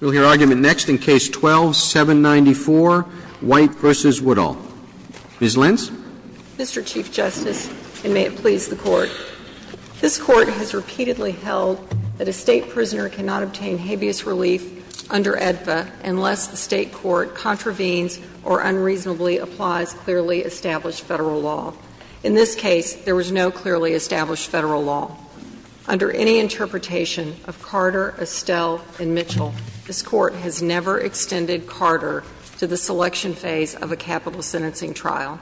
Ms. Lentz. Mr. Chief Justice, and may it please the Court, this Court has repeatedly held that a State prisoner cannot obtain habeas relief under AEDPA unless the State Court contravenes or unreasonably applies clearly established Federal law. In this case, there was no clearly established Federal law. Under any interpretation of Carter, Estelle, and Mitchell, this Court has never extended Carter to the selection phase of a capital sentencing trial.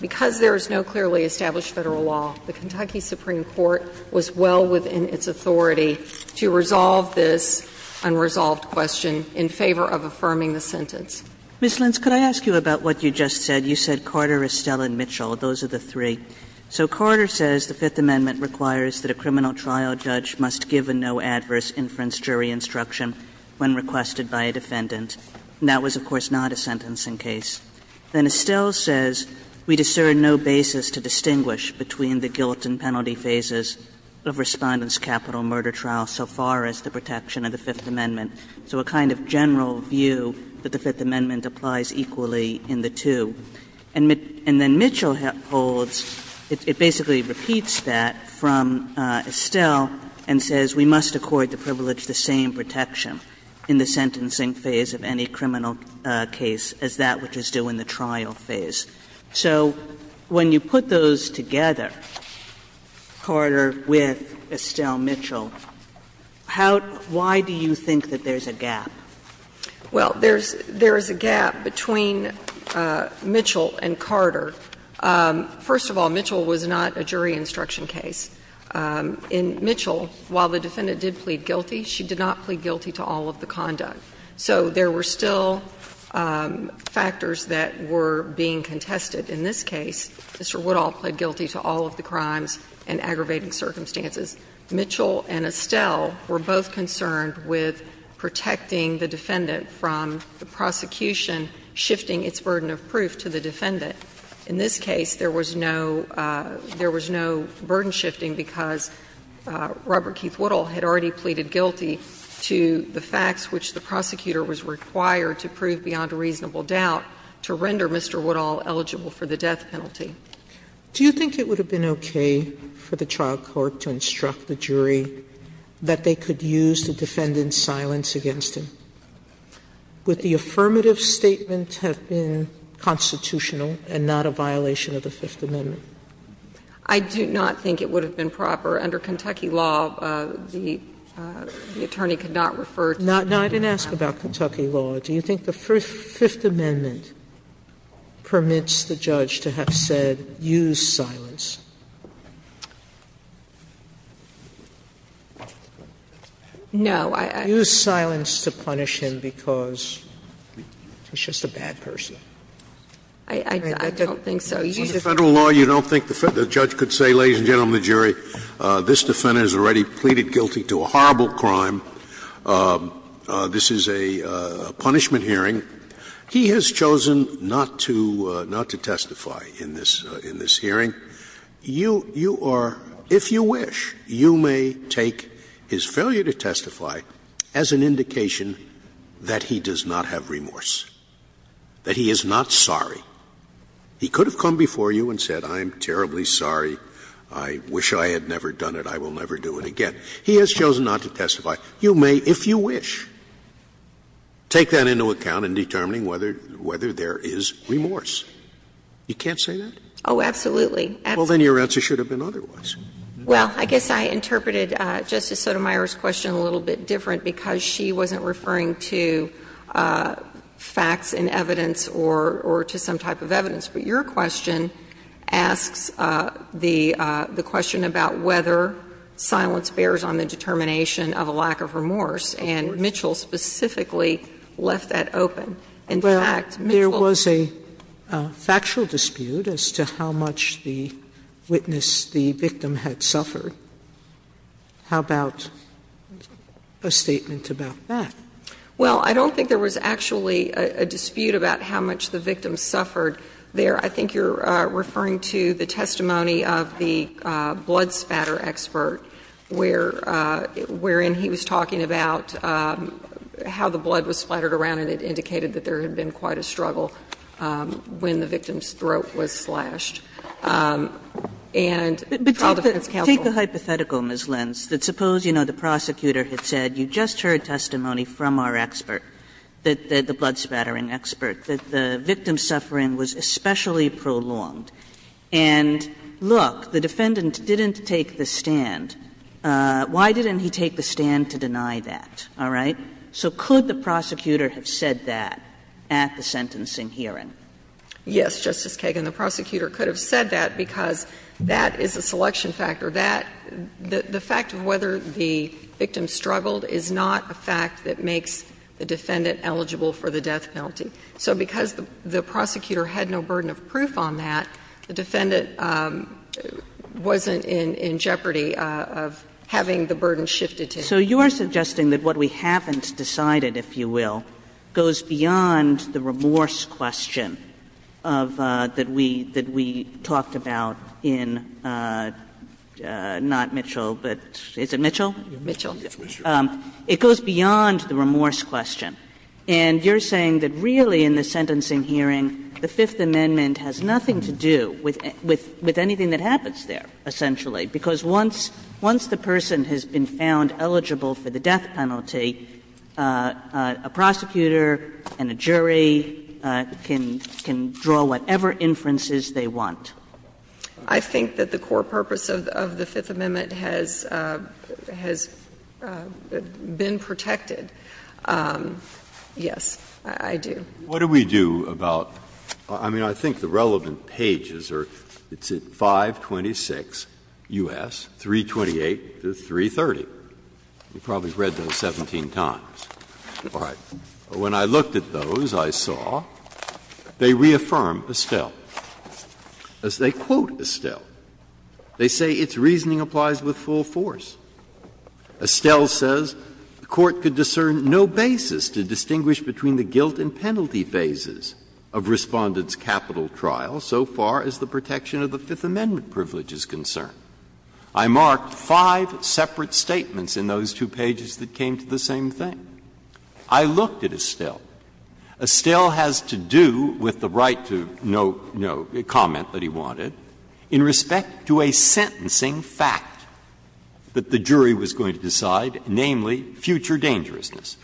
Because there is no clearly established Federal law, the Kentucky Supreme Court was well within its authority to resolve this unresolved question in favor of affirming the sentence. Ms. Lentz, could I ask you about what you just said? You said Carter, Estelle, and Mitchell. Those are the three. So Carter says the Fifth Amendment requires that a criminal trial judge must give a no-adverse inference jury instruction when requested by a defendant. That was, of course, not a sentencing case. Then Estelle says we discern no basis to distinguish between the guilt and penalty phases of Respondent's capital murder trial so far as the protection of the Fifth Amendment. So a kind of general view that the Fifth Amendment applies equally in the two. And then Mitchell holds, it basically repeats that from Estelle, and says we must accord the privilege the same protection in the sentencing phase of any criminal case as that which is due in the trial phase. So when you put those together, Carter with Estelle Mitchell, how do you think that there is a gap? Well, there's a gap between Mitchell and Carter. First of all, Mitchell was not a jury instruction case. In Mitchell, while the defendant did plead guilty, she did not plead guilty to all of the conduct. So there were still factors that were being contested. In this case, Mr. Woodall pled guilty to all of the crimes and aggravating circumstances. Mitchell and Estelle were both concerned with protecting the defendant from the prosecution shifting its burden of proof to the defendant. In this case, there was no burden shifting because Robert Keith Woodall had already pleaded guilty to the facts which the prosecutor was required to prove beyond a reasonable doubt to render Mr. Woodall eligible for the death penalty. Sotomayor, do you think it would have been okay for the trial court to instruct the jury that they could use the defendant's silence against him? Would the affirmative statement have been constitutional and not a violation of the Fifth Amendment? I do not think it would have been proper. Under Kentucky law, the attorney could not refer to the Fifth Amendment. Now, I didn't ask about Kentucky law. Do you think the Fifth Amendment permits the judge to have said, use silence? No. I don't. Use silence to punish him because he's just a bad person. I don't think so. Under Federal law, you don't think the judge could say, ladies and gentlemen of the jury, this defendant has already pleaded guilty to a horrible crime. This is a punishment hearing. He has chosen not to testify in this hearing. You are, if you wish, you may take his failure to testify as an indication that he does not have remorse, that he is not sorry. He could have come before you and said, I am terribly sorry. I wish I had never done it. He has chosen not to testify. You may, if you wish, take that into account in determining whether there is remorse. You can't say that? Oh, absolutely. Well, then your answer should have been otherwise. Well, I guess I interpreted Justice Sotomayor's question a little bit different because she wasn't referring to facts and evidence or to some type of evidence. But your question asks the question about whether silence bears on the determination of a lack of remorse, and Mitchell specifically left that open. In fact, Mitchell was a factual dispute as to how much the witness, the victim, had suffered. How about a statement about that? Well, I don't think there was actually a dispute about how much the victim suffered there. I think you are referring to the testimony of the blood spatter expert where it was clear and he was talking about how the blood was splattered around and it indicated that there had been quite a struggle when the victim's throat was slashed. And the trial defense counsel. But take the hypothetical, Ms. Lenz, that suppose, you know, the prosecutor had said, you just heard testimony from our expert, the blood spattering expert, that the victim's suffering was especially prolonged. And look, the defendant didn't take the stand. Why didn't he take the stand to deny that? All right? So could the prosecutor have said that at the sentencing hearing? Yes, Justice Kagan, the prosecutor could have said that because that is a selection factor. That the fact of whether the victim struggled is not a fact that makes the defendant eligible for the death penalty. So because the prosecutor had no burden of proof on that, the defendant wasn't in jeopardy of having the burden shifted to him. Kagan. So you are suggesting that what we haven't decided, if you will, goes beyond the remorse question of that we talked about in not Mitchell, but is it Mitchell? Mitchell. It goes beyond the remorse question. And you're saying that really in the sentencing hearing, the Fifth Amendment has nothing to do with anything that happens there, essentially, because once the person has been found eligible for the death penalty, a prosecutor and a jury can draw whatever inferences they want. I think that the core purpose of the Fifth Amendment has been protected. Yes, I do. Breyer. What do we do about the relevant pages? It's at 526 U.S., 328 to 330. You probably have read those 17 times. All right. When I looked at those, I saw they reaffirm Estelle, as they quote Estelle. They say its reasoning applies with full force. Estelle says the Court could discern no basis to distinguish between the guilt and the penalty phases of Respondent's capital trial so far as the protection of the Fifth Amendment privilege is concerned. I marked five separate statements in those two pages that came to the same thing. I looked at Estelle. Estelle has to do with the right to no comment that he wanted in respect to a sentencing fact that the jury was going to decide, namely, future dangerousness.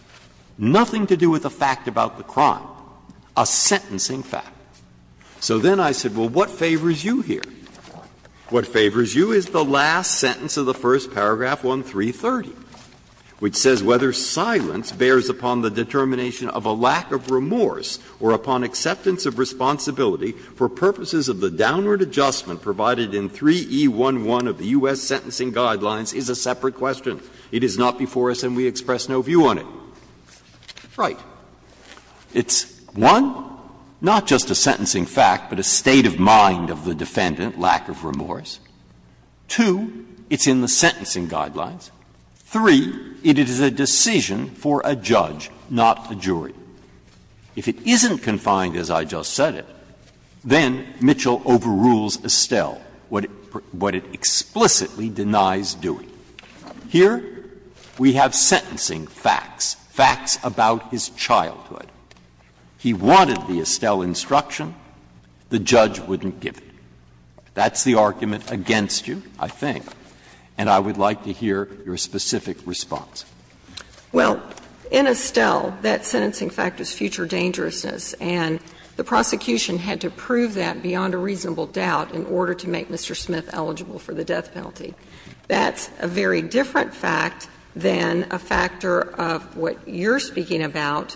Nothing to do with a fact about the crime, a sentencing fact. So then I said, well, what favors you here? What favors you is the last sentence of the first paragraph, 1330, which says, Whether silence bears upon the determination of a lack of remorse or upon acceptance of responsibility for purposes of the downward adjustment provided in 3E11 of the U.S. Sentencing Guidelines is a separate question. It is not before us and we express no view on it. Right. It's, one, not just a sentencing fact, but a state of mind of the defendant, lack of remorse. Two, it's in the Sentencing Guidelines. Three, it is a decision for a judge, not a jury. If it isn't confined, as I just said it, then Mitchell overrules Estelle, what it explicitly denies doing. Here we have sentencing facts, facts about his childhood. He wanted the Estelle instruction. The judge wouldn't give it. That's the argument against you, I think, and I would like to hear your specific response. Well, in Estelle, that sentencing fact was future dangerousness, and the prosecution had to prove that beyond a reasonable doubt in order to make Mr. Smith eligible for the death penalty. That's a very different fact than a factor of what you're speaking about,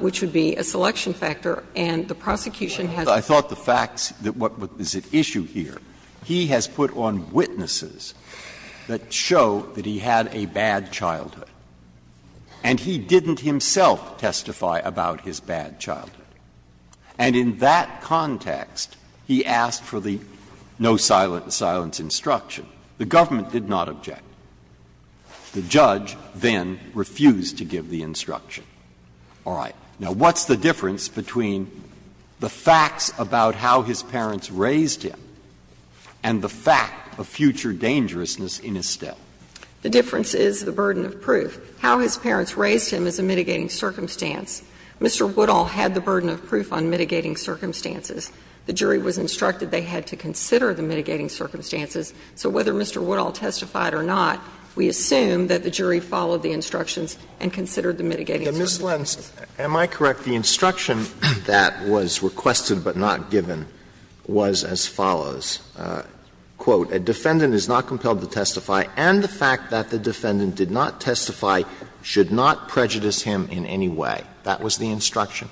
which would be a selection factor, and the prosecution has to prove that. I thought the facts, what is at issue here, he has put on witnesses that show that he had a bad childhood, and he didn't himself testify about his bad childhood. And in that context, he asked for the no silence instruction. The government did not object. The judge then refused to give the instruction. All right. Now, what's the difference between the facts about how his parents raised him and the fact of future dangerousness in Estelle? The difference is the burden of proof. How his parents raised him is a mitigating circumstance. Mr. Woodall had the burden of proof on mitigating circumstances. The jury was instructed they had to consider the mitigating circumstances. So whether Mr. Woodall testified or not, we assume that the jury followed the instructions and considered the mitigating circumstances. Alito, am I correct, the instruction that was requested but not given was as follows. Quote, A defendant is not compelled to testify, and the fact that the defendant did not testify should not prejudice him in any way. That was the instruction?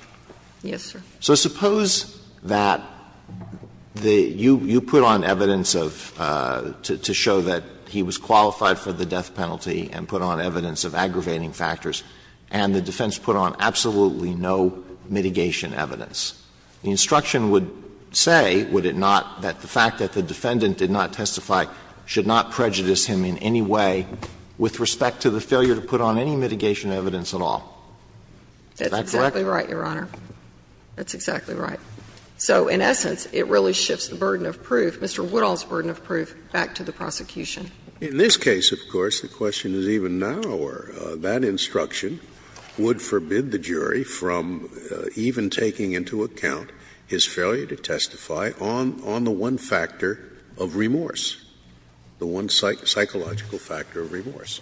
Yes, sir. So suppose that the you put on evidence of, to show that he was qualified for the death penalty and put on evidence of aggravating factors, and the defense put on absolutely no mitigation evidence. The instruction would say, would it not, that the fact that the defendant did not testify should not prejudice him in any way with respect to the failure to put on any mitigation evidence at all. Is that correct? That's exactly right, Your Honor. That's exactly right. So in essence, it really shifts the burden of proof, Mr. Woodall's burden of proof, back to the prosecution. In this case, of course, the question is even narrower. That instruction would forbid the jury from even taking into account his failure to testify on the one factor of remorse, the one psychological factor of remorse.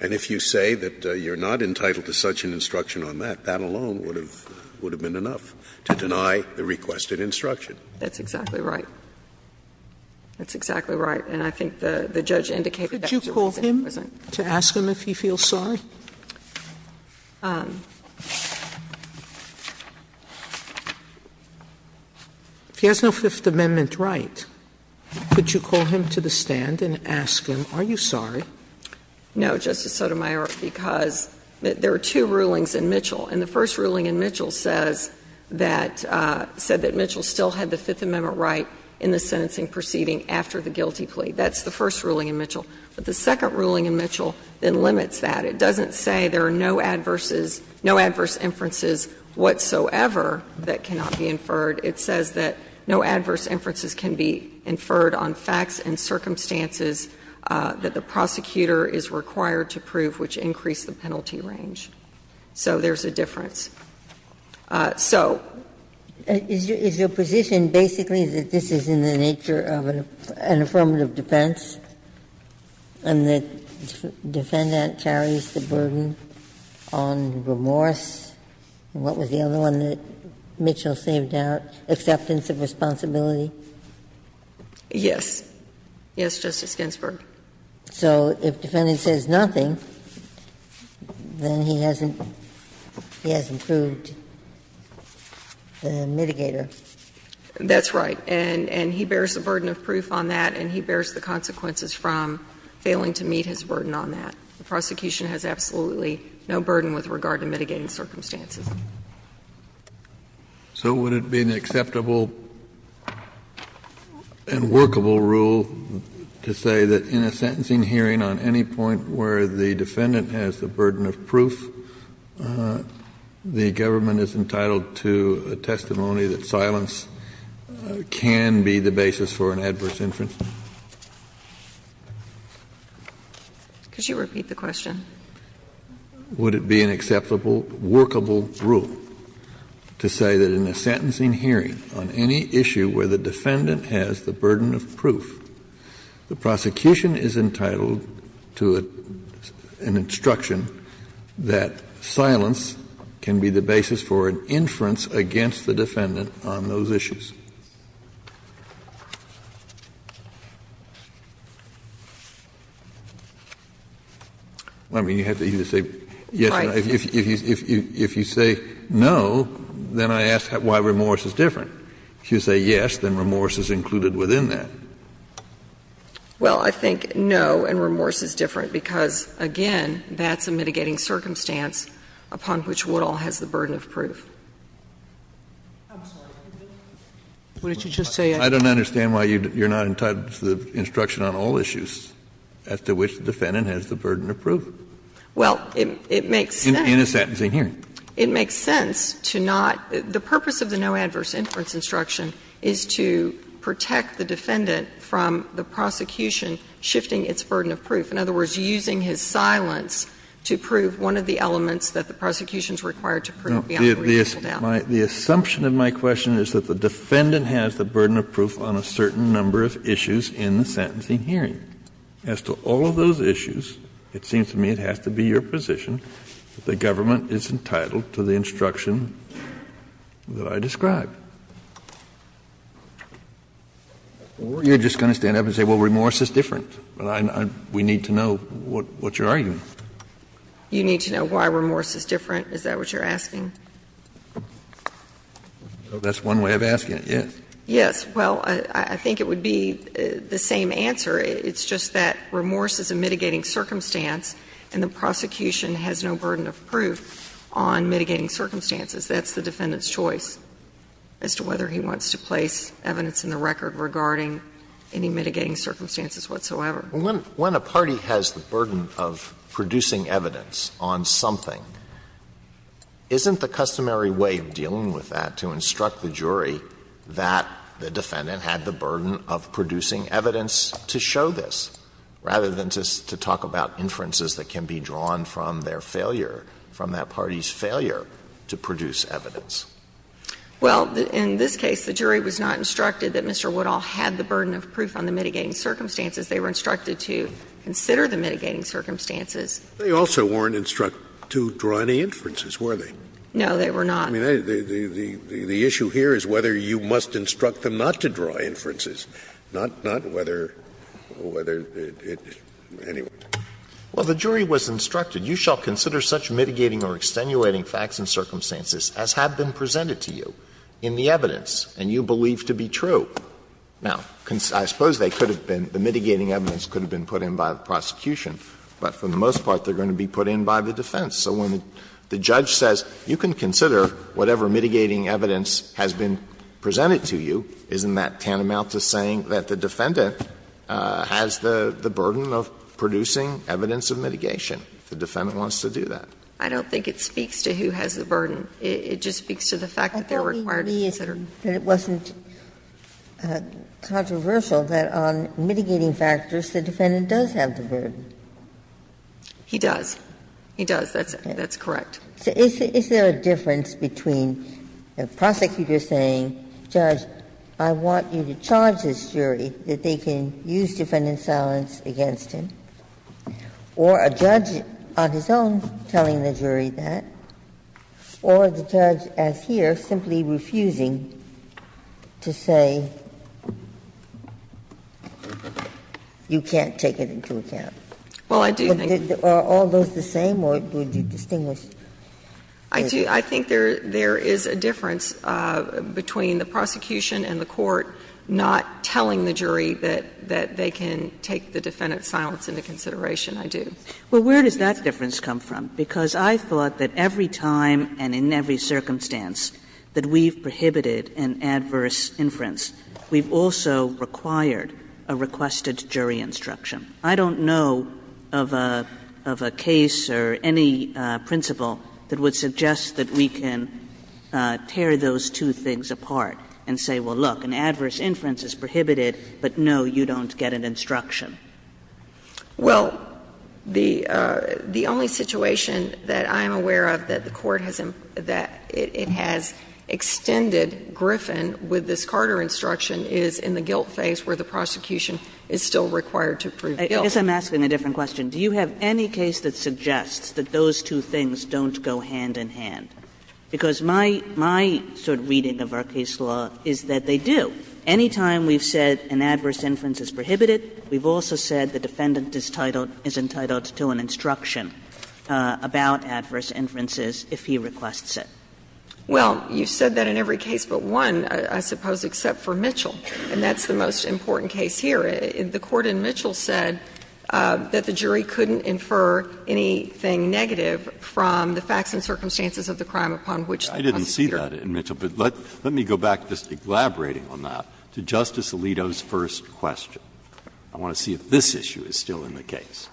And if you say that you're not entitled to such an instruction on that, that alone would have been enough to deny the requested instruction. That's exactly right. That's exactly right. And I think the judge indicated that he was incompetent. Could you call him to ask him if he feels sorry? If he has no Fifth Amendment right, could you call him to the stand and ask him, are you sorry? No, Justice Sotomayor, because there are two rulings in Mitchell, and the first ruling in Mitchell says that, said that Mitchell still had the Fifth Amendment right in the sentencing proceeding after the guilty plea. That's the first ruling in Mitchell. But the second ruling in Mitchell then limits that. It doesn't say there are no adverses, no adverse inferences whatsoever that cannot be inferred. It says that no adverse inferences can be inferred on facts and circumstances that the prosecutor is required to prove which increase the penalty range. So there's a difference. So. Ginsburg. Is your position basically that this is in the nature of an affirmative defense and the defendant carries the burden on remorse? And what was the other one that Mitchell saved out, acceptance of responsibility? Yes. Yes, Justice Ginsburg. So if the defendant says nothing, then he hasn't, he hasn't proved the mitigator. That's right. And he bears the burden of proof on that, and he bears the consequences from failing to meet his burden on that. The prosecution has absolutely no burden with regard to mitigating circumstances. So would it be an acceptable and workable rule to say that in a sentencing hearing on any point where the defendant has the burden of proof, the government is entitled to a testimony that silence can be the basis for an adverse inference? Could you repeat the question? Would it be an acceptable, workable rule to say that in a sentencing hearing on any issue where the defendant has the burden of proof, the prosecution is entitled to an instruction that silence can be the basis for an inference against the defendant on those issues? Well, I mean, you have to either say yes or no. If you say no, then I ask why remorse is different. If you say yes, then remorse is included within that. Well, I think no, and remorse is different, because, again, that's a mitigating circumstance upon which Woodall has the burden of proof. I'm sorry. Why don't you just say yes? I don't understand why you're not entitled to the instruction on all issues as to which the defendant has the burden of proof. Well, it makes sense. In a sentencing hearing. It makes sense to not the purpose of the no adverse inference instruction is to protect the defendant from the prosecution shifting its burden of proof. In other words, using his silence to prove one of the elements that the prosecution is required to prove beyond the reasonable doubt. The assumption of my question is that the defendant has the burden of proof on a certain number of issues in the sentencing hearing. As to all of those issues, it seems to me it has to be your position that the government is entitled to the instruction that I described. Or you're just going to stand up and say, well, remorse is different. We need to know what you're arguing. You need to know why remorse is different. Is that what you're asking? That's one way of asking it, yes. Yes. Well, I think it would be the same answer. It's just that remorse is a mitigating circumstance and the prosecution has no burden of proof on mitigating circumstances. That's the defendant's choice as to whether he wants to place evidence in the record regarding any mitigating circumstances whatsoever. Alitoson When a party has the burden of producing evidence on something, isn't the customary way of dealing with that to instruct the jury that the defendant had the burden of producing evidence to show this, rather than just to talk about inferences that can be drawn from their failure, from that party's failure to produce evidence? Well, in this case, the jury was not instructed that Mr. Woodall had the burden of proof on the mitigating circumstances. They were instructed to consider the mitigating circumstances. Scalia They also weren't instructed to draw any inferences, were they? Alitoson No, they were not. Scalia I mean, the issue here is whether you must instruct them not to draw inferences, not whether it anyway. Alitoson Well, the jury was instructed, You shall consider such mitigating or extenuating facts and circumstances as have been presented to you in the evidence and you believe to be true. Now, I suppose they could have been, the mitigating evidence could have been put in by the prosecution, but for the most part they are going to be put in by the defense. So when the judge says, you can consider whatever mitigating evidence has been presented to you, isn't that tantamount to saying that the defendant has the burden of producing evidence of mitigation, if the defendant wants to do that? I don't think it speaks to who has the burden. It just speaks to the fact that they are required to consider. Ginsburg And it wasn't controversial that on mitigating factors the defendant does have the burden. Alitoson He does. He does. That's correct. Ginsburg So is there a difference between a prosecutor saying, Judge, I want you to charge this jury, that they can use defendant's silence against him, or a judge on his own telling the jury that, or the judge as here simply refusing to say, you can't take it into account? Alitoson Well, I do think there is a difference between the prosecution and the court not telling the jury that they can take the defendant's silence into consideration. I do. Kagan Well, where does that difference come from? Because I thought that every time and in every circumstance that we've prohibited an adverse inference, we've also required a requested jury instruction. I don't know of a case or any principle that would suggest that we can tear those two things apart and say, well, look, an adverse inference is prohibited, but no, you don't get an instruction. Alitoson Well, the only situation that I'm aware of that the court has emphasized that it has extended Griffin with this Carter instruction is in the guilt phase where the prosecution is still required to prove guilt. Kagan I guess I'm asking a different question. Do you have any case that suggests that those two things don't go hand in hand? Because my sort of reading of our case law is that they do. Any time we've said an adverse inference is prohibited, we've also said the defendant is entitled to an instruction about adverse inferences if he requests it. Alitoson Well, you've said that in every case but one, I suppose, except for Mitchell, and that's the most important case here. The court in Mitchell said that the jury couldn't infer anything negative from the facts and circumstances of the crime upon which the prosecutor. Breyer Let me go back, just elaborating on that, to Justice Alito's first question. I want to see if this issue is still in the case.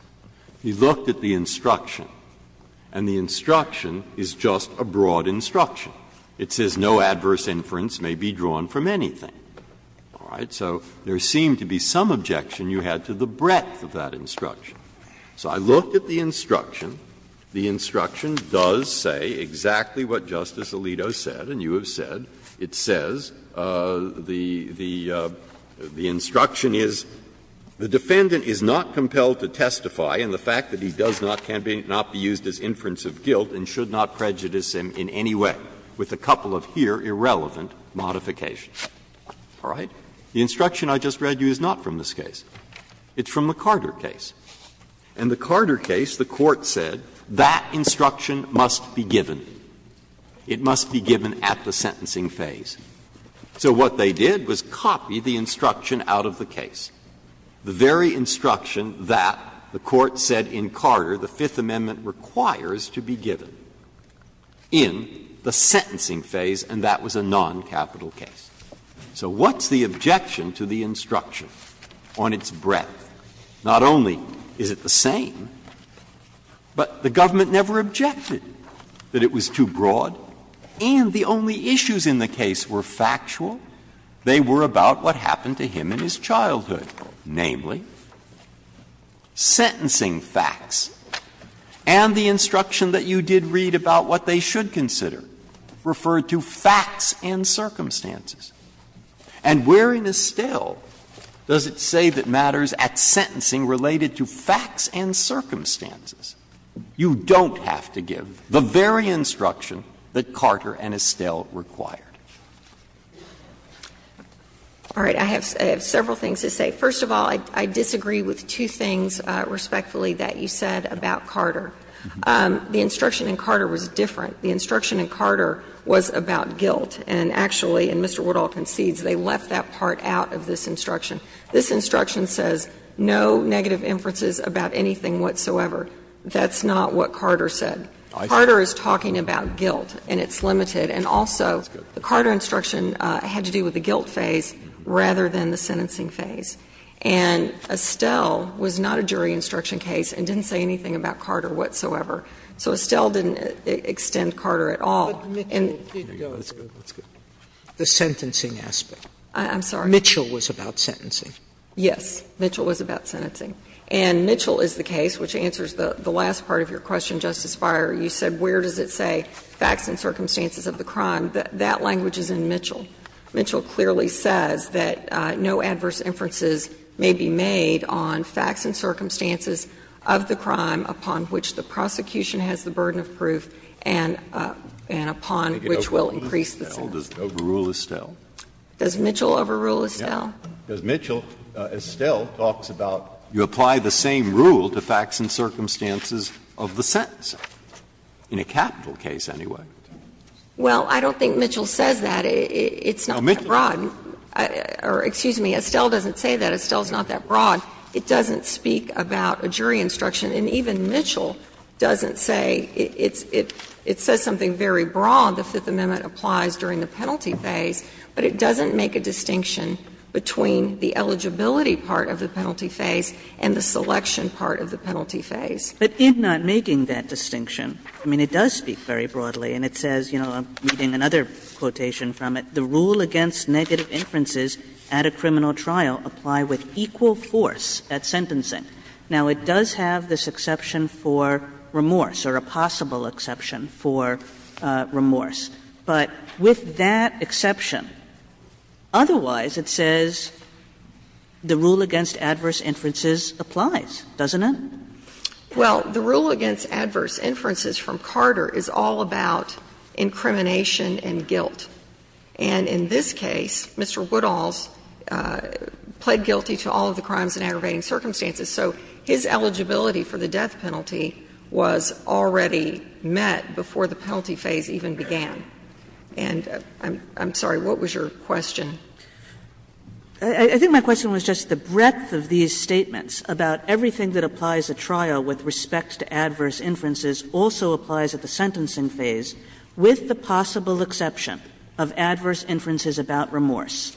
He looked at the instruction, and the instruction is just a broad instruction. It says no adverse inference may be drawn from anything. All right? So there seemed to be some objection you had to the breadth of that instruction. So I looked at the instruction. The instruction does say exactly what Justice Alito said, and you have said, it says the instruction is, the defendant is not compelled to testify, and the fact that he does not can be not be used as inference of guilt and should not prejudice him in any way, with a couple of here irrelevant modifications. All right? The instruction I just read you is not from this case. It's from the Carter case. In the Carter case, the Court said that instruction must be given. It must be given at the sentencing phase. So what they did was copy the instruction out of the case, the very instruction that the Court said in Carter the Fifth Amendment requires to be given in the sentencing phase, and that was a noncapital case. So what's the objection to the instruction on its breadth? Not only is it the same, but the government never objected that it was too broad, and the only issues in the case were factual. They were about what happened to him in his childhood, namely, sentencing facts and the instruction that you did read about what they should consider, referred to facts and circumstances. And where in Estelle does it say that matters at sentencing related to facts and circumstances? You don't have to give the very instruction that Carter and Estelle required. All right. I have several things to say. First of all, I disagree with two things respectfully that you said about Carter. The instruction in Carter was different. The instruction in Carter was about guilt, and actually, and Mr. Woodall concedes, they left that part out of this instruction. This instruction says no negative inferences about anything whatsoever. That's not what Carter said. Carter is talking about guilt, and it's limited. And also, the Carter instruction had to do with the guilt phase rather than the sentencing phase. And Estelle was not a jury instruction case and didn't say anything about Carter whatsoever. So Estelle didn't extend Carter at all. And the sentencing aspect. I'm sorry. Mitchell was about sentencing. Yes. Mitchell was about sentencing. And Mitchell is the case, which answers the last part of your question, Justice Breyer. You said where does it say facts and circumstances of the crime. That language is in Mitchell. Mitchell clearly says that no adverse inferences may be made on facts and circumstances of the crime upon which the prosecution has the burden of proof and upon which will increase the sentence. Does Mitchell overrule Estelle? Mitchell, Estelle talks about you apply the same rule to facts and circumstances of the sentence, in a capital case anyway. Well, I don't think Mitchell says that. It's not that broad. Or excuse me, Estelle doesn't say that. Estelle is not that broad. It doesn't speak about a jury instruction. And even Mitchell doesn't say it's – it says something very broad, the Fifth Amendment applies during the penalty phase. But it doesn't make a distinction between the eligibility part of the penalty phase and the selection part of the penalty phase. But in not making that distinction, I mean, it does speak very broadly. And it says, you know, I'm reading another quotation from it, Now, it does have this exception for remorse, or a possible exception for remorse. But with that exception, otherwise it says the rule against adverse inferences applies, doesn't it? Well, the rule against adverse inferences from Carter is all about incrimination and guilt. And in this case, Mr. Woodall's pled guilty to all of the crimes and aggravating circumstances. So his eligibility for the death penalty was already met before the penalty phase even began. And I'm sorry, what was your question? I think my question was just the breadth of these statements about everything that applies at trial with respect to adverse inferences also applies at the sentencing phase with the possible exception of adverse inferences about remorse.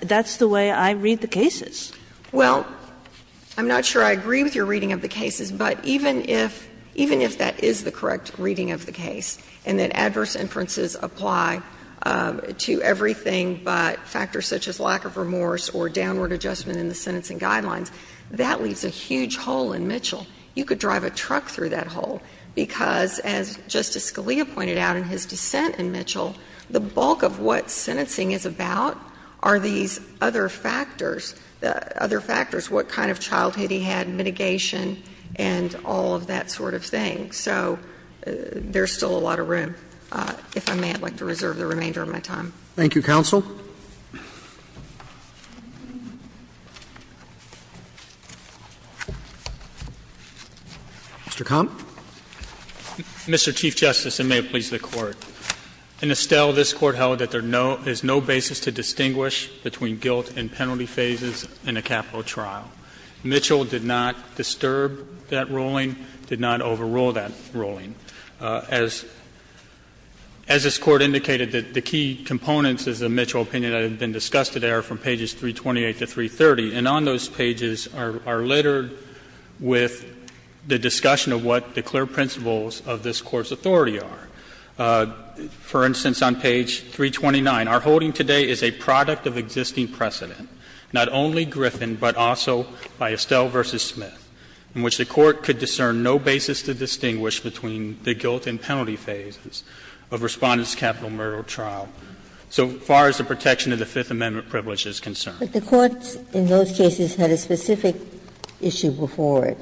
That's the way I read the cases. Well, I'm not sure I agree with your reading of the cases, but even if that is the correct reading of the case and that adverse inferences apply to everything but factors such as lack of remorse or downward adjustment in the sentencing guidelines, that leaves a huge hole in Mitchell. You could drive a truck through that hole because, as Justice Scalia pointed out in his dissent in Mitchell, the bulk of what sentencing is about are these other factors, other factors, what kind of childhood he had, mitigation, and all of that sort of thing. So there's still a lot of room, if I may, I'd like to reserve the remainder of my time. Thank you, counsel. Mr. Kamp? Mr. Chief Justice, and may it please the Court, in Estelle, this Court held that there is no basis to distinguish between guilt and penalty phases in a capital trial. Mitchell did not disturb that ruling, did not overrule that ruling. As this Court indicated, the key components of the Mitchell opinion that have been discussed today are from pages 328 to 330, and on those pages are littered with the discussion of what the clear principles of this Court's authority are. For instance, on page 329, the guilt and penalty phases of Respondent's capital murder trial. So far as the protection of the Fifth Amendment privilege is concerned. Ginsburg. But the courts in those cases had a specific issue before it.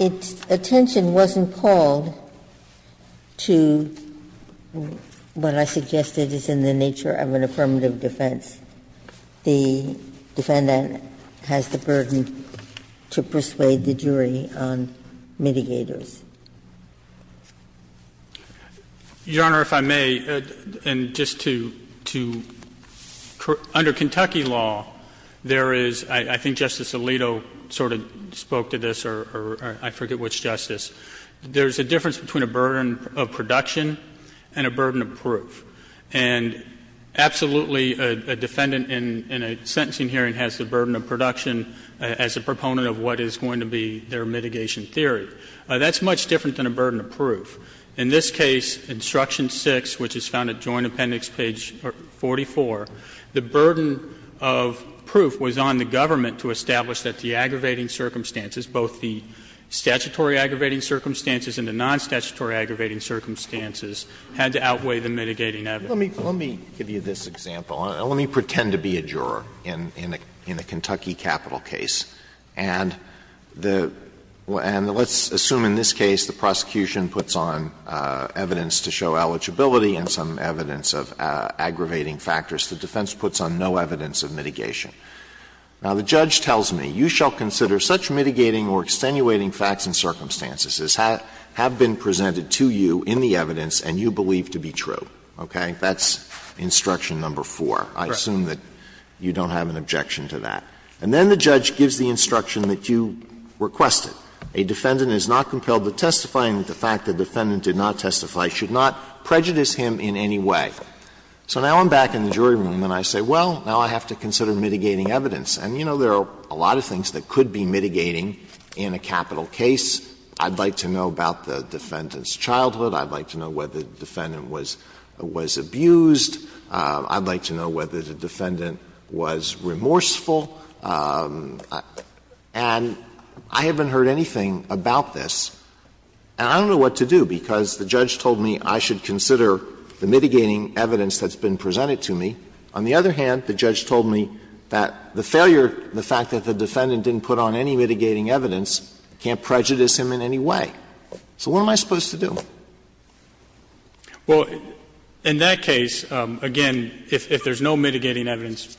Its attention wasn't called to what I suggested is in the nature of an affirmative defense. The defendant has the burden to persuade the jury on mitigators. Mitchell, Your Honor, if I may, and just to under Kentucky law, there is, I think Justice Alito sort of spoke to this, or I forget which justice, there is a difference between a burden of production and a burden of proof. And absolutely, a defendant in a sentencing hearing has the burden of production as a proponent of what is going to be their mitigation theory. That's much different than a burden of proof. In this case, Instruction 6, which is found at Joint Appendix page 44, the burden of proof was on the government to establish that the aggravating circumstances, both the statutory aggravating circumstances and the non-statutory aggravating circumstances, had to outweigh the mitigating evidence. Alito, let me give you this example. Let me pretend to be a juror in a Kentucky capital case. And let's assume in this case the prosecution puts on evidence to show eligibility and some evidence of aggravating factors. The defense puts on no evidence of mitigation. Now, the judge tells me, you shall consider such mitigating or extenuating facts and circumstances as have been presented to you in the evidence and you believe to be true, okay? That's Instruction No. 4. I assume that you don't have an objection to that. And then the judge gives the instruction that you requested. A defendant is not compelled to testify, and the fact that the defendant did not testify should not prejudice him in any way. So now I'm back in the jury room and I say, well, now I have to consider mitigating evidence. And, you know, there are a lot of things that could be mitigating in a capital case. I'd like to know about the defendant's childhood. I'd like to know whether the defendant was abused. I'd like to know whether the defendant was remorseful. And I haven't heard anything about this. And I don't know what to do, because the judge told me I should consider the mitigating evidence that's been presented to me. On the other hand, the judge told me that the failure, the fact that the defendant didn't put on any mitigating evidence can't prejudice him in any way. So what am I supposed to do? Well, in that case, again, if there's no mitigating evidence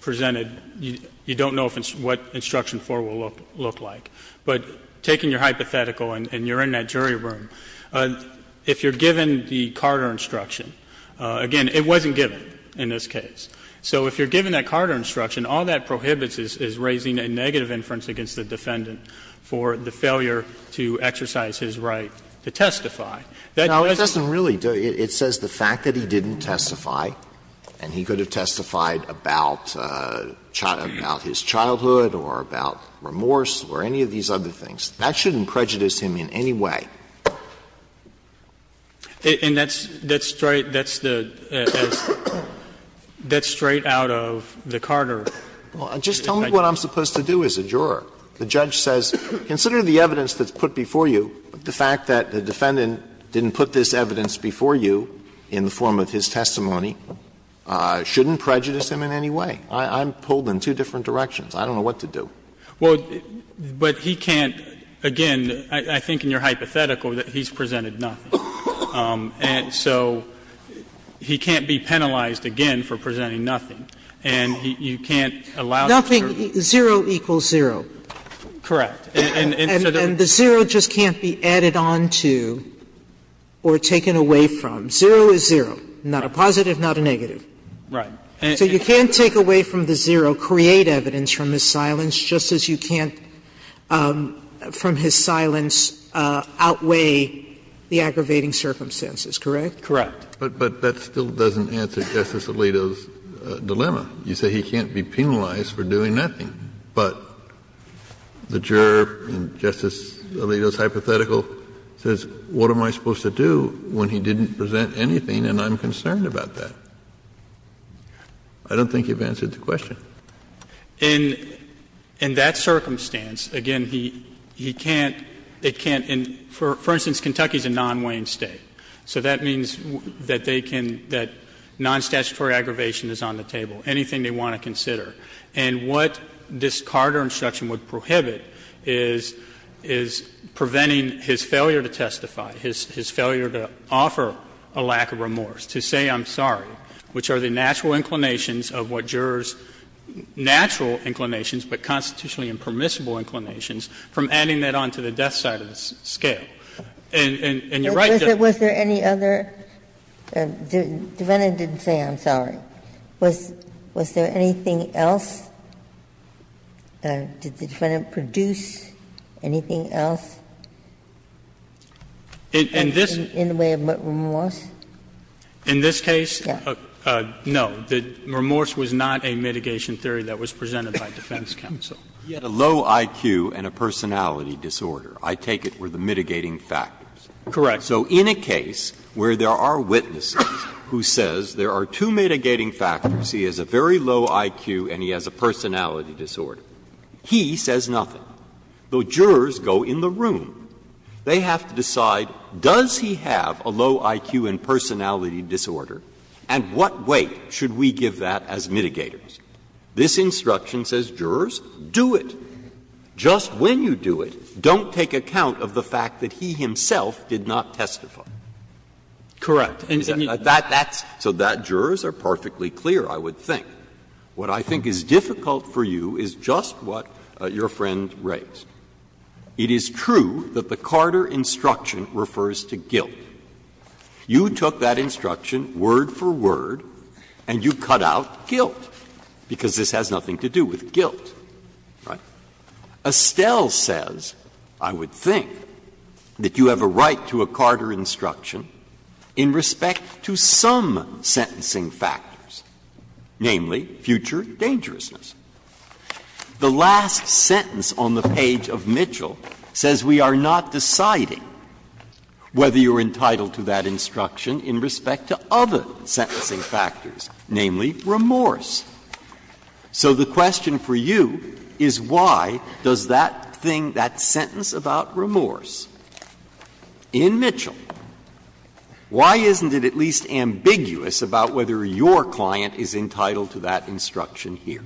presented, you don't know what Instruction 4 will look like. But taking your hypothetical, and you're in that jury room, if you're given the Carter Instruction, again, it wasn't given in this case. So if you're given that Carter Instruction, all that prohibits is raising a negative inference against the defendant for the failure to exercise his right to testify. That doesn't really do it. It says the fact that he didn't testify and he could have testified about his childhood or about remorse or any of these other things, that shouldn't prejudice him in any way. And that's straight, that's the, that's straight out of the Carter. Well, just tell me what I'm supposed to do as a juror. The judge says, consider the evidence that's put before you, but the fact that the defendant didn't put this evidence before you in the form of his testimony shouldn't prejudice him in any way. I'm pulled in two different directions. I don't know what to do. Well, but he can't, again, I think in your hypothetical that he's presented nothing. And so he can't be penalized again for presenting nothing. And you can't allow the jury to do that. Nothing, zero equals zero. Correct. And the zero just can't be added on to or taken away from. Zero is zero. Not a positive, not a negative. Right. So you can't take away from the zero, create evidence from his silence, just as you can't from his silence outweigh the aggravating circumstances, correct? Correct. But that still doesn't answer Justice Alito's dilemma. You say he can't be penalized for doing nothing. But the juror in Justice Alito's hypothetical says, what am I supposed to do when he didn't present anything and I'm concerned about that? I don't think you've answered the question. In that circumstance, again, he can't, it can't, for instance, Kentucky is a non-Wayne State, so that means that they can, that non-statutory aggravation is on the table, anything they want to consider. And what this Carter instruction would prohibit is preventing his failure to testify, his failure to offer a lack of remorse, to say I'm sorry, which are the natural inclinations of what jurors' natural inclinations, but constitutionally impermissible inclinations, from adding that on to the death sentence scale. And you're right to do that. Ginsburg was there any other, defendant didn't say I'm sorry, was there anything else, did the defendant produce anything else? In the way of remorse? In this case, no. Remorse was not a mitigation theory that was presented by defense counsel. He had a low IQ and a personality disorder. I take it were the mitigating factors. Correct. So in a case where there are witnesses who says there are two mitigating factors, he has a very low IQ and he has a personality disorder, he says nothing. The jurors go in the room. They have to decide, does he have a low IQ and personality disorder, and what weight should we give that as mitigators? This instruction says, jurors, do it. Just when you do it, don't take account of the fact that he himself did not testify. Correct. And that's so that jurors are perfectly clear, I would think. And what I think is difficult for you is just what your friend raised. It is true that the Carter instruction refers to guilt. You took that instruction word for word and you cut out guilt, because this has nothing to do with guilt, right? Estelle says, I would think, that you have a right to a Carter instruction in respect to some sentencing factors, namely, future dangerousness. The last sentence on the page of Mitchell says we are not deciding whether you are entitled to that instruction in respect to other sentencing factors, namely, remorse. So the question for you is why does that thing, that sentence about remorse in Mitchell say that? Why isn't it at least ambiguous about whether your client is entitled to that instruction here?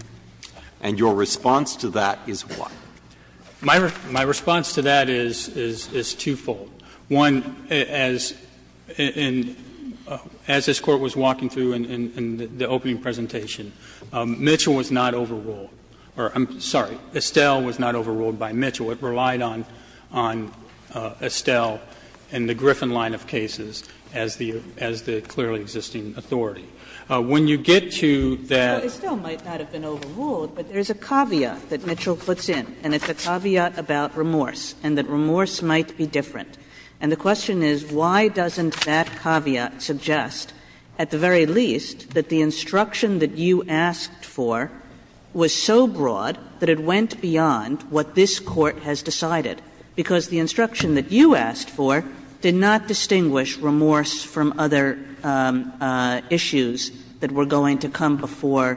And your response to that is what? My response to that is twofold. One, as this Court was walking through in the opening presentation, Mitchell was not overruled or, I'm sorry, Estelle was not overruled by Mitchell. It relied on Estelle and the Griffin line of cases as the clearly existing authority. When you get to that ---- Kagan Estelle might not have been overruled, but there's a caveat that Mitchell puts in, and it's a caveat about remorse, and that remorse might be different. And the question is why doesn't that caveat suggest, at the very least, that the instruction that you asked for was so broad that it went beyond what this Court has decided, because the instruction that you asked for did not distinguish remorse from other issues that were going to come before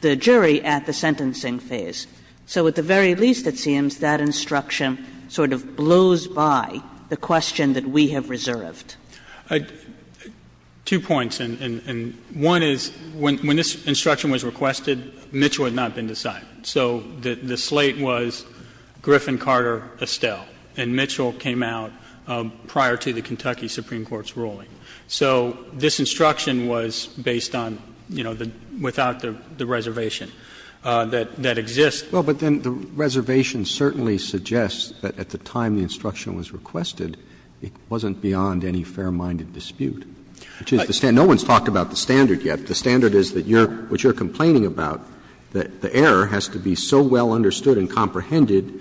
the jury at the sentencing phase. So at the very least, it seems, that instruction sort of blows by the question that we have reserved. I have two points, and one is, when this instruction was requested, Mitchell had not been decided. So the slate was Griffin, Carter, Estelle, and Mitchell came out prior to the Kentucky Supreme Court's ruling. So this instruction was based on, you know, without the reservation that exists. Roberts, but then the reservation certainly suggests that at the time the instruction was requested, it wasn't beyond any fair-minded dispute, which is the standard no one's talked about the standard yet. The standard is that what you're complaining about, that the error has to be so well understood and comprehended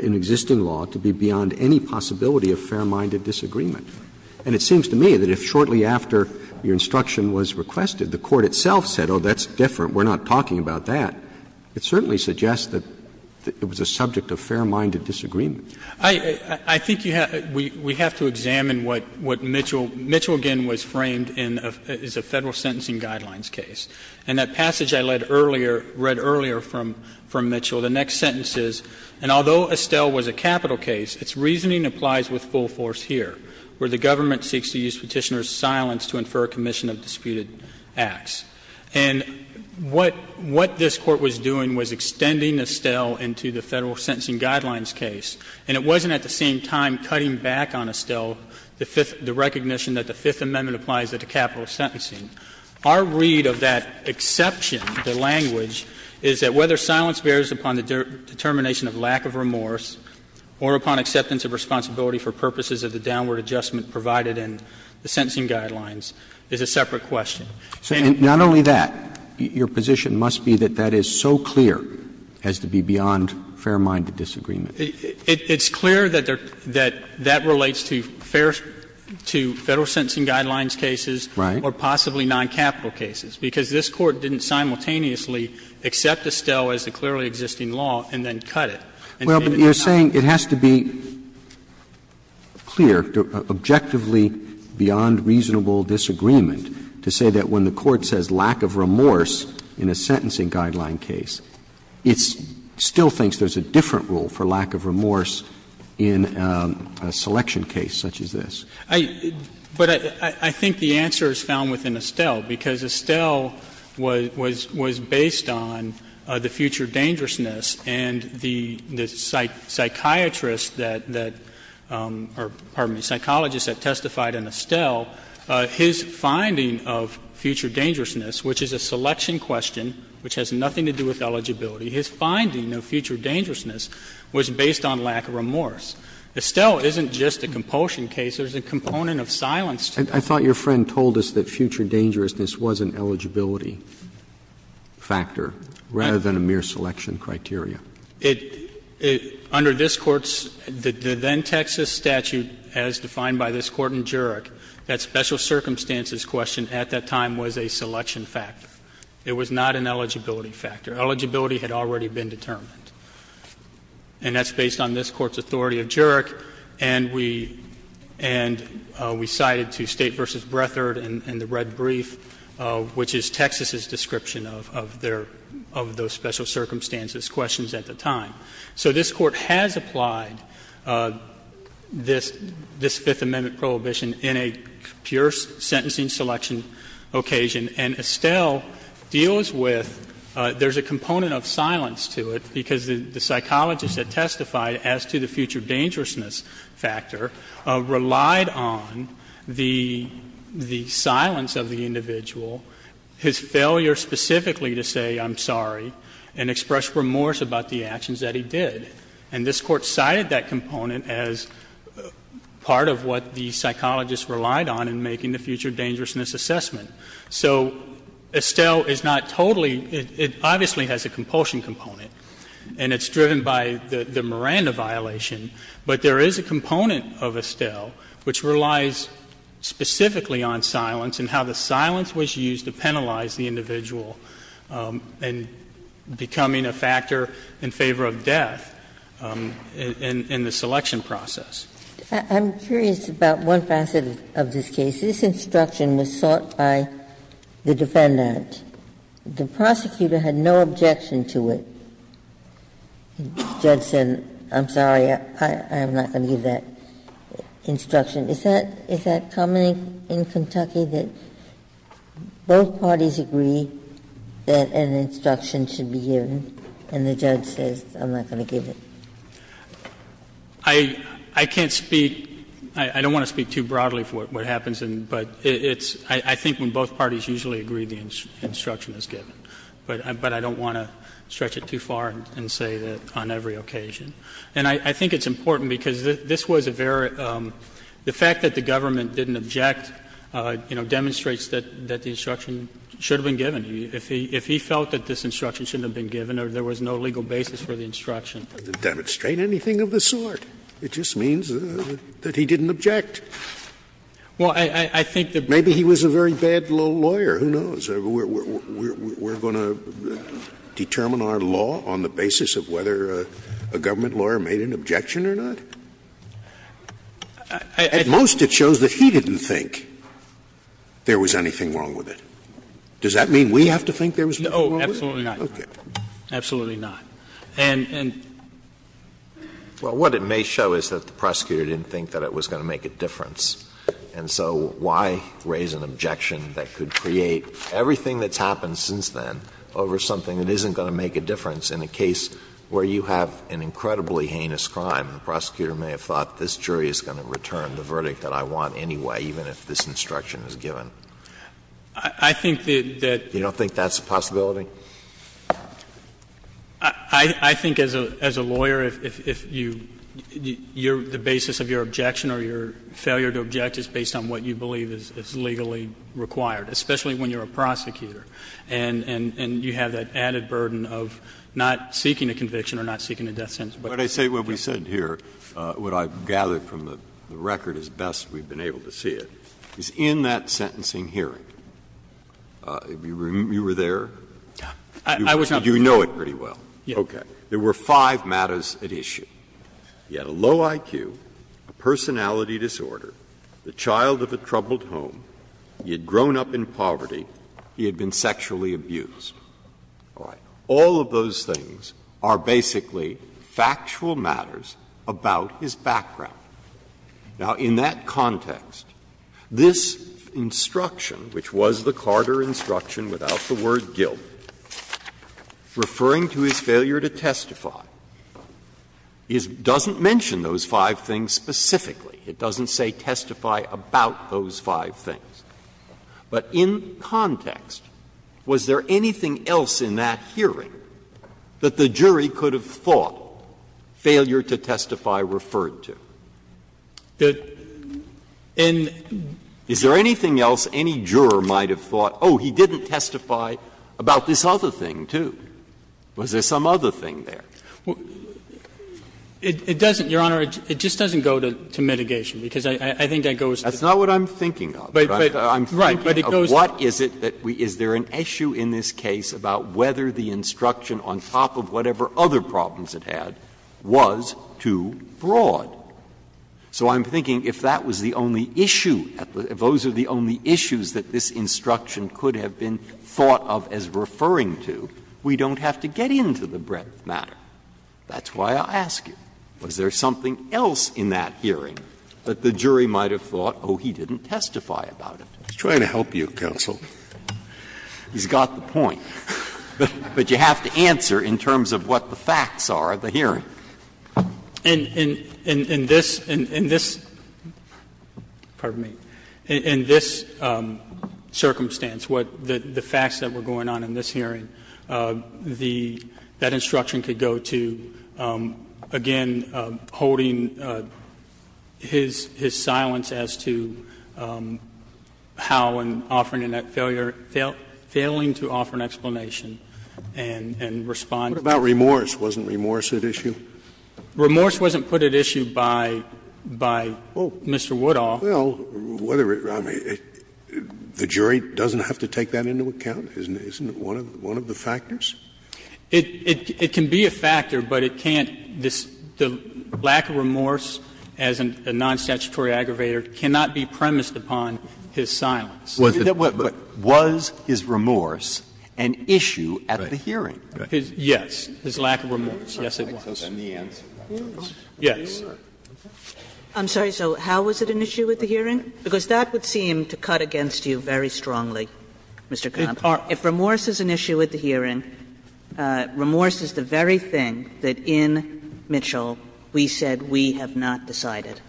in existing law to be beyond any possibility of fair-minded disagreement. And it seems to me that if shortly after your instruction was requested, the Court itself said, oh, that's different, we're not talking about that, it certainly suggests that it was a subject of fair-minded disagreement. I think you have to — we have to examine what Mitchell — Mitchell, again, was framed in a — is a Federal Sentencing Guidelines case. And that passage I read earlier from Mitchell, the next sentence is, and although Estelle was a capital case, its reasoning applies with full force here, where the government seeks to use Petitioner's silence to infer a commission of disputed acts. And what this Court was doing was extending Estelle into the Federal Sentencing Guidelines case, and it wasn't at the same time cutting back on Estelle the recognition that the Fifth Amendment applies at the capital sentencing. Our read of that exception, the language, is that whether silence bears upon the determination of lack of remorse or upon acceptance of responsibility for purposes of the downward adjustment provided in the Sentencing Guidelines is a separate question. Roberts. So not only that, your position must be that that is so clear as to be beyond fair-minded disagreement. It's clear that there — that that relates to fair — to Federal Sentencing Guidelines cases or possibly non-capital cases, because this Court didn't simultaneously accept Estelle as a clearly existing law and then cut it. Well, but you're saying it has to be clear, objectively beyond reasonable disagreement to say that when the Court says lack of remorse in a Sentencing Guidelines case, it still thinks there's a different rule for lack of remorse in a selection case such as this. I — but I think the answer is found within Estelle, because Estelle was — was based on the future dangerousness and the psychiatrist that — that — or, pardon me, psychologist that testified in Estelle, his finding of future dangerousness, which is a selection question, which has nothing to do with eligibility. His finding of future dangerousness was based on lack of remorse. Estelle isn't just a compulsion case. There's a component of silence to it. I thought your friend told us that future dangerousness was an eligibility factor rather than a mere selection criteria. It — it — under this Court's — the then-Texas statute as defined by this Court in Jurek, that special circumstances question at that time was a selection factor. It was not an eligibility factor. Eligibility had already been determined. And that's based on this Court's authority of Jurek, and we — and we cited to State v. Brethert in the red brief, which is Texas's description of — of their — of those special circumstances questions at the time. So this Court has applied this — this Fifth Amendment prohibition in a pure sentencing selection occasion. And Estelle deals with — there's a component of silence to it, because the — the psychologist that testified as to the future dangerousness factor relied on the — the silence of the individual, his failure specifically to say, I'm sorry, and express remorse about the actions that he did. And this Court cited that component as part of what the psychologist relied on in making the future dangerousness assessment. So Estelle is not totally — it obviously has a compulsion component, and it's driven by the — the Miranda violation. But there is a component of Estelle which relies specifically on silence and how the — how the psychologist relied on the silent factor in favor of death in — in the selection process. Ginsburg. I'm curious about one facet of this case. This instruction was sought by the defendant. The prosecutor had no objection to it. The judge said, I'm sorry, I'm not going to give that instruction. Is that — is that common in Kentucky, that both parties agree that an instruction should be given, and the judge says, I'm not going to give it? I can't speak — I don't want to speak too broadly for what happens, but it's — I think when both parties usually agree, the instruction is given. But I don't want to stretch it too far and say that on every occasion. And I think it's important because this was a very — the fact that the government didn't object, you know, demonstrates that the instruction should have been given. If he felt that this instruction shouldn't have been given or there was no legal basis for the instruction. Scalia. It doesn't demonstrate anything of the sort. It just means that he didn't object. Well, I think the — Maybe he was a very bad lawyer. Who knows? Scalia. But what it shows is we're going to determine our law on the basis of whether a government lawyer made an objection or not? At most, it shows that he didn't think there was anything wrong with it. Does that mean we have to think there was anything wrong with it? Oh, absolutely not. Absolutely not. And — and — Well, what it may show is that the prosecutor didn't think that it was going to make a difference. And so why raise an objection that could create everything that's happened since then over something that isn't going to make a difference in a case where you have an incredibly heinous crime? The prosecutor may have thought this jury is going to return the verdict that I want anyway, even if this instruction is given. I think that the — You don't think that's a possibility? I think as a lawyer, if you — the basis of your objection or your failure to object is based on what you believe is legally required, especially when you're a prosecutor and you have that added burden of not seeking a conviction or not seeking a death sentence. But I say what we said here, what I've gathered from the record as best we've been able to see it, is in that sentencing hearing, you were there. I was not there. You know it pretty well. Yes. Okay. There were five matters at issue. He had a low IQ, a personality disorder, the child of a troubled home, he had grown up in poverty, he had been sexually abused. All right. All of those things are basically factual matters about his background. Now, in that context, this instruction, which was the Carter instruction without the word guilt, referring to his failure to testify, is — doesn't mention those five things specifically. It doesn't say testify about those five things. But in context, was there anything else in that hearing that the jury could have thought failure to testify referred to? Is there anything else any juror might have thought, oh, he didn't testify about this other thing, too? Was there some other thing there? It doesn't, Your Honor. It just doesn't go to mitigation, because I think that goes to the other thing. That's not what I'm thinking of. But it goes to the other thing. I'm thinking of what is it that we — is there an issue in this case about whether the instruction on top of whatever other problems it had was too broad? So I'm thinking if that was the only issue, if those are the only issues that this Court has thought of as referring to, we don't have to get into the breadth matter. That's why I ask you, was there something else in that hearing that the jury might have thought, oh, he didn't testify about it? Scalia, trying to help you, counsel. He's got the point, but you have to answer in terms of what the facts are at the hearing. And in this — in this — pardon me — in this circumstance, what the facts that were going on in this hearing, the — that instruction could go to, again, holding his silence as to how in offering a failure — failing to offer an explanation and respond to that. What about remorse? Wasn't remorse at issue? Remorse wasn't put at issue by — by Mr. Woodall. Well, whether it — I mean, the jury doesn't have to take that into account? Isn't it one of the factors? It can be a factor, but it can't — the lack of remorse as a non-statutory aggravator cannot be premised upon his silence. But was his remorse an issue at the hearing? Yes, his lack of remorse, yes, it was. And the answer to that is yes. I'm sorry, so how was it an issue at the hearing? Because that would seem to cut against you very strongly, Mr. Connolly. If remorse is an issue at the hearing, remorse is the very thing that in Mitchell we said we have not decided.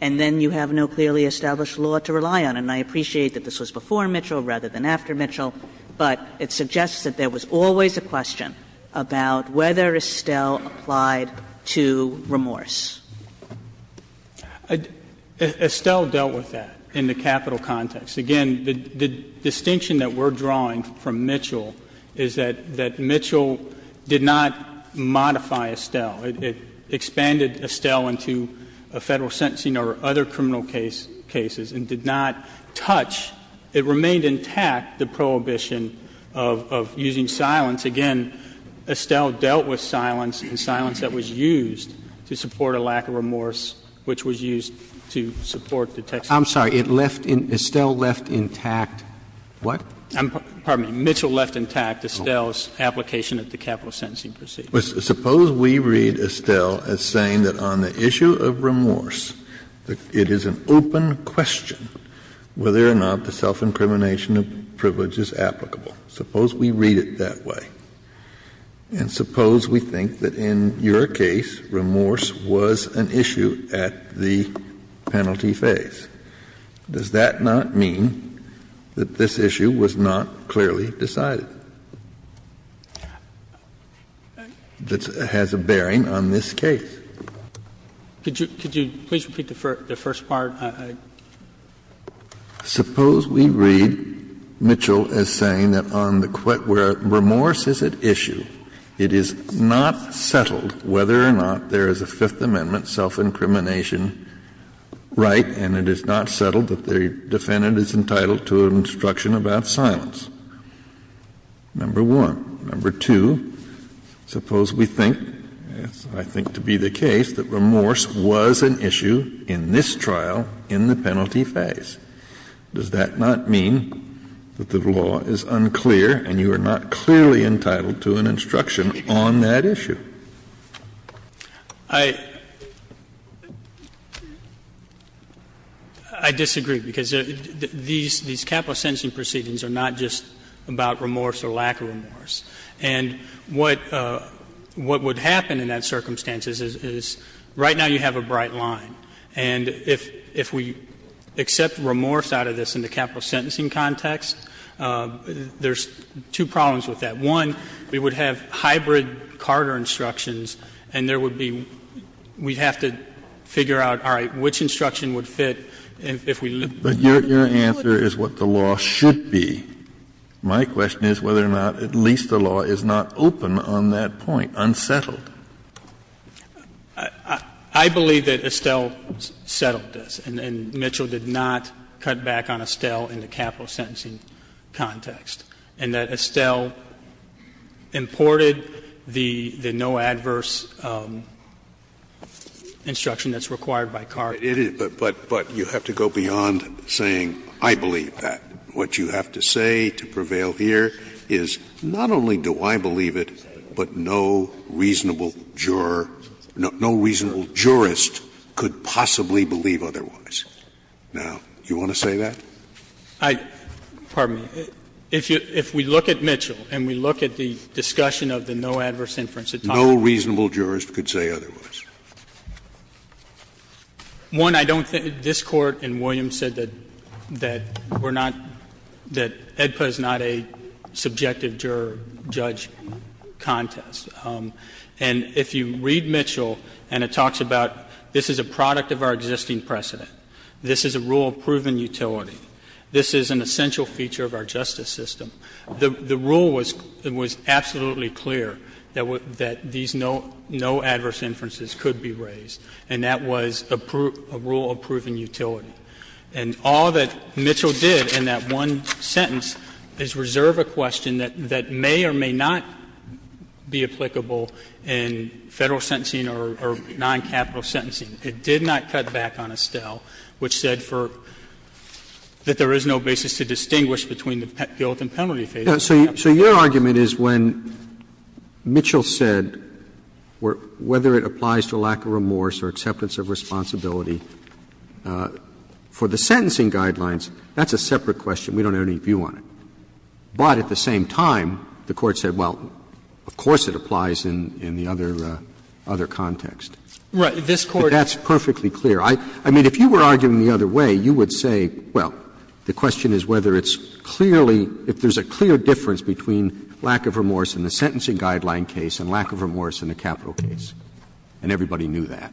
And then you have no clearly established law to rely on. And I appreciate that this was before Mitchell rather than after Mitchell, but it suggests that there was always a question about whether Estelle applied to remorse. Estelle dealt with that in the capital context. Again, the distinction that we're drawing from Mitchell is that — that Mitchell did not modify Estelle. It expanded Estelle into a Federal sentencing or other criminal case — cases and did not touch. It remained intact, the prohibition of using silence. Again, Estelle dealt with silence and silence that was used to support a lack of remorse, which was used to support the textual— I'm sorry, it left in — Estelle left intact what? I'm — pardon me, Mitchell left intact Estelle's application at the capital sentencing proceedings. Suppose we read Estelle as saying that on the issue of remorse, it is an open question whether or not the self-incrimination of privilege is applicable. Suppose we read it that way. And suppose we think that in your case remorse was an issue at the penalty phase. Does that not mean that this issue was not clearly decided? That has a bearing on this case. Could you please repeat the first part? Kennedy, suppose we read Mitchell as saying that on the remorse-is-at-issue, it is not settled whether or not there is a Fifth Amendment self-incrimination right, and it is not settled that the defendant is entitled to an instruction about silence, number one. Number two, suppose we think, as I think to be the case, that remorse was an issue in this trial in the penalty phase. Does that not mean that the law is unclear and you are not clearly entitled to an instruction on that issue? I disagree, because these capital sentencing proceedings are not just about remorse or lack of remorse. And what would happen in that circumstance is, right now you have a bright line. And if we accept remorse out of this in the capital sentencing context, there's two problems with that. One, we would have hybrid Carter instructions, and there would be we would have to figure out, all right, which instruction would fit if we looked at the other one. Kennedy, your answer is what the law should be. My question is whether or not at least the law is not open on that point, unsettled. I believe that Estelle settled this, and Mitchell did not cut back on Estelle in the capital sentencing context, and that Estelle imported the no adverse instruction that's required by Carter. Scalia, but you have to go beyond saying, I believe that. What you have to say to prevail here is, not only do I believe it, but no reasonable juror, no reasonable jurist could possibly believe otherwise. Now, do you want to say that? I — pardon me. If we look at Mitchell and we look at the discussion of the no adverse inference at time. No reasonable jurist could say otherwise. One, I don't think — this Court in Williams said that we're not — that AEDPA is not a subjective juror-judge contest. And if you read Mitchell and it talks about this is a product of our existing precedent, this is a rule of proven utility, this is an essential feature of our justice system, the rule was absolutely clear that these no adverse inferences could be used and that no adverse inference could be raised, and that was a rule of proven utility. And all that Mitchell did in that one sentence is reserve a question that may or may not be applicable in Federal sentencing or non-capital sentencing. It did not cut back on Estelle, which said for — that there is no basis to distinguish between the guilt and penalty phases. Roberts So your argument is when Mitchell said whether it applies to lack of remorse or acceptance of responsibility for the sentencing guidelines, that's a separate question. We don't have any view on it. But at the same time, the Court said, well, of course it applies in the other context. Right. This Court — But that's perfectly clear. I mean, if you were arguing the other way, you would say, well, the question is whether it's clearly — if there's a clear difference between lack of remorse in the sentencing guideline case and lack of remorse in the capital case, and everybody knew that.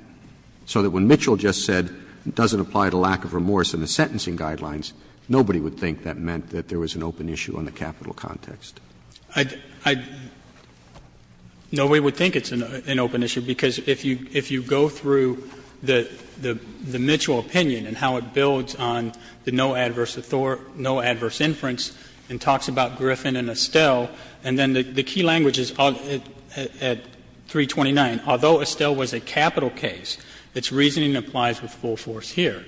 So that when Mitchell just said it doesn't apply to lack of remorse in the sentencing guidelines, nobody would think that meant that there was an open issue on the capital context. I'd — nobody would think it's an open issue, because if you go through the Mitchell opinion and how it builds on the no adverse — no adverse inference and talks about Griffin and Estelle, and then the key language is at 329, although Estelle was a capital case, its reasoning applies with full force here.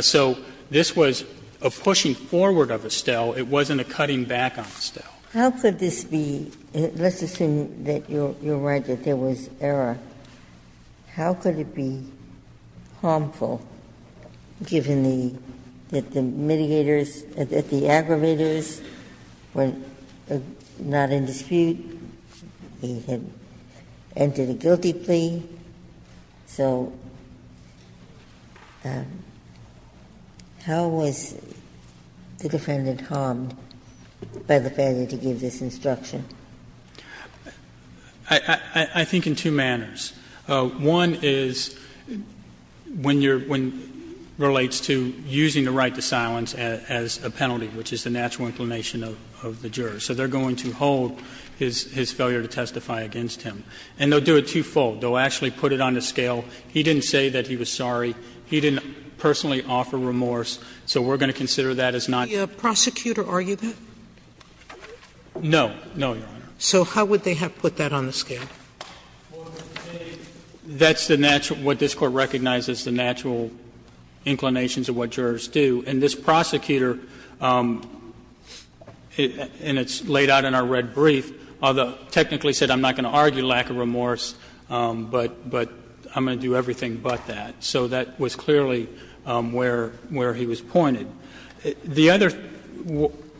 So this was a pushing forward of Estelle. It wasn't a cutting back on Estelle. How could this be — let's assume that you're right, that there was error. How could it be harmful, given the — that the mitigators, that the aggravators were not in dispute, he had entered a guilty plea? So how was the defendant harmed by the failure to give this instruction? I think in two manners. One is when you're — when it relates to using the right to silence as a penalty, which is the natural inclination of the juror. So they're going to hold his failure to testify against him. And they'll do it twofold. They'll actually put it on a scale. He didn't say that he was sorry. He didn't personally offer remorse. So we're going to consider that as not. Sotomayor, did the prosecutor argue that? No. No, Your Honor. So how would they have put that on the scale? Well, that's the natural — what this Court recognizes, the natural inclinations of what jurors do. And this prosecutor, and it's laid out in our red brief, although technically said I'm not going to argue lack of remorse, but I'm going to do everything but that. So that was clearly where he was pointed. The other —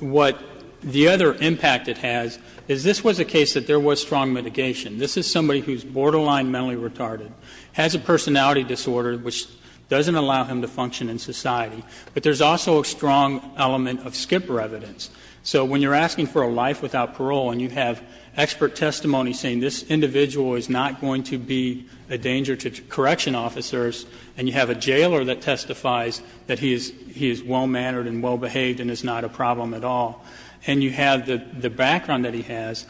what — the other impact it has is this was a case that there was strong mitigation. This is somebody who's borderline mentally retarded, has a personality disorder which doesn't allow him to function in society. But there's also a strong element of skipper evidence. So when you're asking for a life without parole and you have expert testimony saying this individual is not going to be a danger to correction officers, and you have a jailer that testifies that he is well-mannered and well-behaved and is not a problem at all, and you have the background that he has,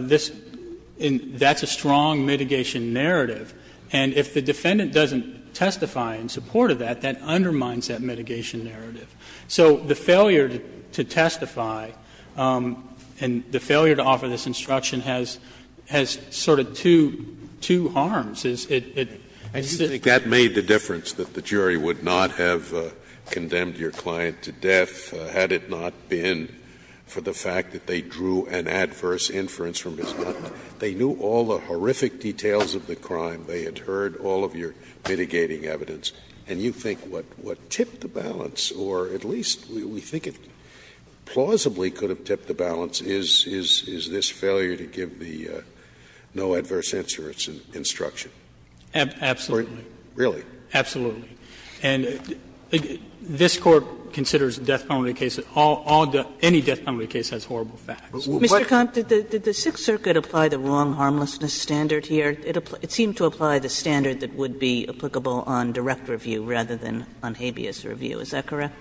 this — that's a strong mitigation narrative. And if the defendant doesn't testify in support of that, that undermines that mitigation narrative. So the failure to testify and the failure to offer this instruction has sort of two harms. It's — it's a— Scalia, I do think that made the difference, that the jury would not have condemned your client to death had it not been for the fact that they drew an adverse inference from his gun. They knew all the horrific details of the crime. They had heard all of your mitigating evidence. And you think what tipped the balance, or at least we think it plausibly could have tipped the balance, is this failure to give the no adverse insurance instruction. Absolutely. Really? Absolutely. And this Court considers a death penalty case, all the — any death penalty case has horrible facts. Mr. Komp, did the Sixth Circuit apply the wrong harmlessness standard here? It seemed to apply the standard that would be applicable on direct review rather than on habeas review. Is that correct?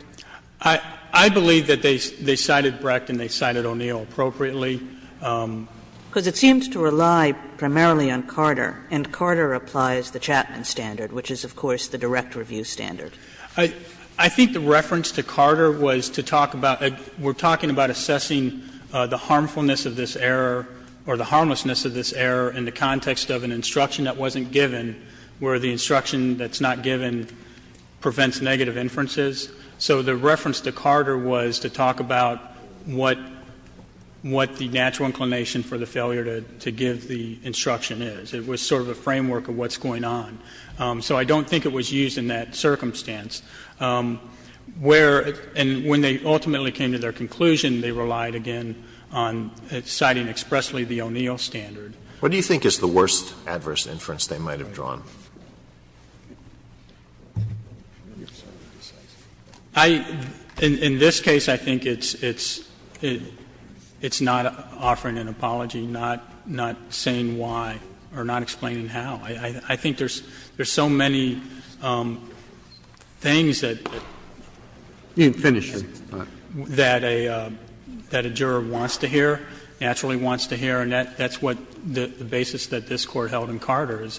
I believe that they cited Brecht and they cited O'Neill appropriately. Because it seems to rely primarily on Carter, and Carter applies the Chapman standard, which is, of course, the direct review standard. I think the reference to Carter was to talk about — we're talking about assessing the harmfulness of this error, or the harmlessness of this error in the context of an instruction that wasn't given, where the instruction that's not given prevents negative inferences. So the reference to Carter was to talk about what the natural inclination for the failure to give the instruction is. It was sort of a framework of what's going on. So I don't think it was used in that circumstance. Where — and when they ultimately came to their conclusion, they relied, again, on citing expressly the O'Neill standard. What do you think is the worst adverse inference they might have drawn? I — in this case, I think it's not offering an apology, not saying why, or not explaining how. I think there's so many things that a juror wants to hear, naturally wants to hear, and that's what the basis that this Court held in Carter is,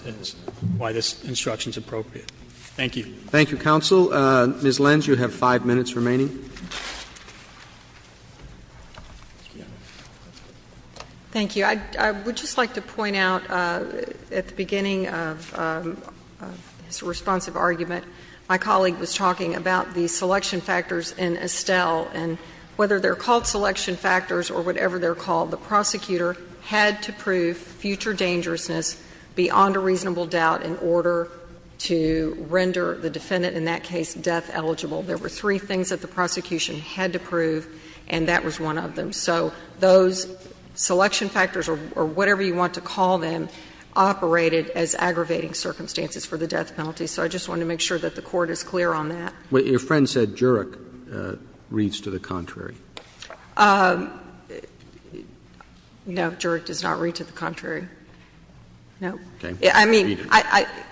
why this instruction is appropriate. Thank you. Roberts. Thank you, counsel. Ms. Lenz, you have 5 minutes remaining. Thank you. I would just like to point out at the beginning of his responsive argument, my colleague was talking about the selection factors in Estelle, and whether they're called selection factors or whatever they're called, the prosecutor had to prove future dangerousness beyond a reasonable doubt in order to render the defendant in that case death eligible. There were three things that the prosecution had to prove, and that was one of them. So those selection factors, or whatever you want to call them, operated as aggravating circumstances for the death penalty. So I just wanted to make sure that the Court is clear on that. Your friend said Jurek reads to the contrary. No, Jurek does not read to the contrary, no. I mean,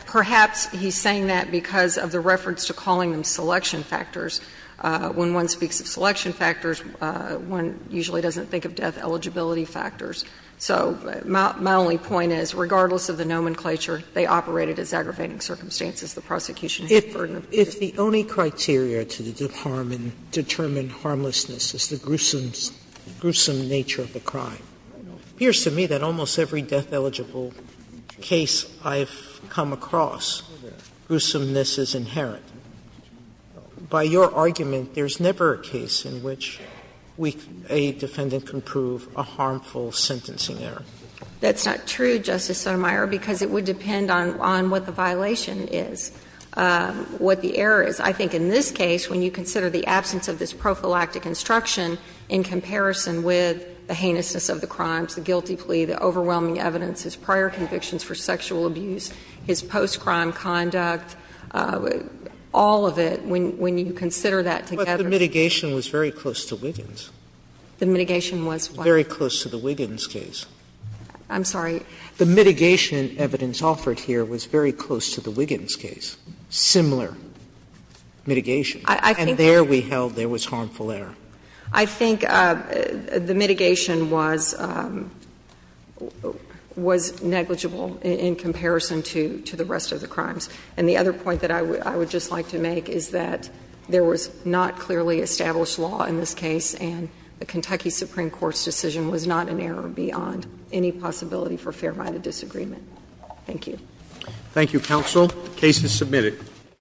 perhaps he's saying that because of the reference to calling them selection factors. When one speaks of selection factors, one usually doesn't think of death eligibility factors. So my only point is, regardless of the nomenclature, they operated as aggravating circumstances. The prosecution had the burden of proof. Sotomayor, if the only criteria to determine harmlessness is the gruesome nature of the crime, it appears to me that almost every death-eligible case I've come across, gruesomeness is inherent. By your argument, there's never a case in which a defendant can prove a harmful sentencing error. That's not true, Justice Sotomayor, because it would depend on what the violation is, what the error is. I think in this case, when you consider the absence of this prophylactic instruction in comparison with the heinousness of the crimes, the guilty plea, the overwhelming evidence, his prior convictions for sexual abuse, his post-crime conduct, all of it, when you consider that together. Sotomayor, the mitigation was very close to Wiggins. The mitigation was what? Very close to the Wiggins case. I'm sorry? The mitigation evidence offered here was very close to the Wiggins case, similar mitigation. And there we held there was harmful error. I think the mitigation was negligible in comparison to the rest of the crimes. And the other point that I would just like to make is that there was not clearly established law in this case, and the Kentucky Supreme Court's decision was not an unconstitutional case. So I think it's a fair line of disagreement. Thank you. Thank you, counsel. The case is submitted.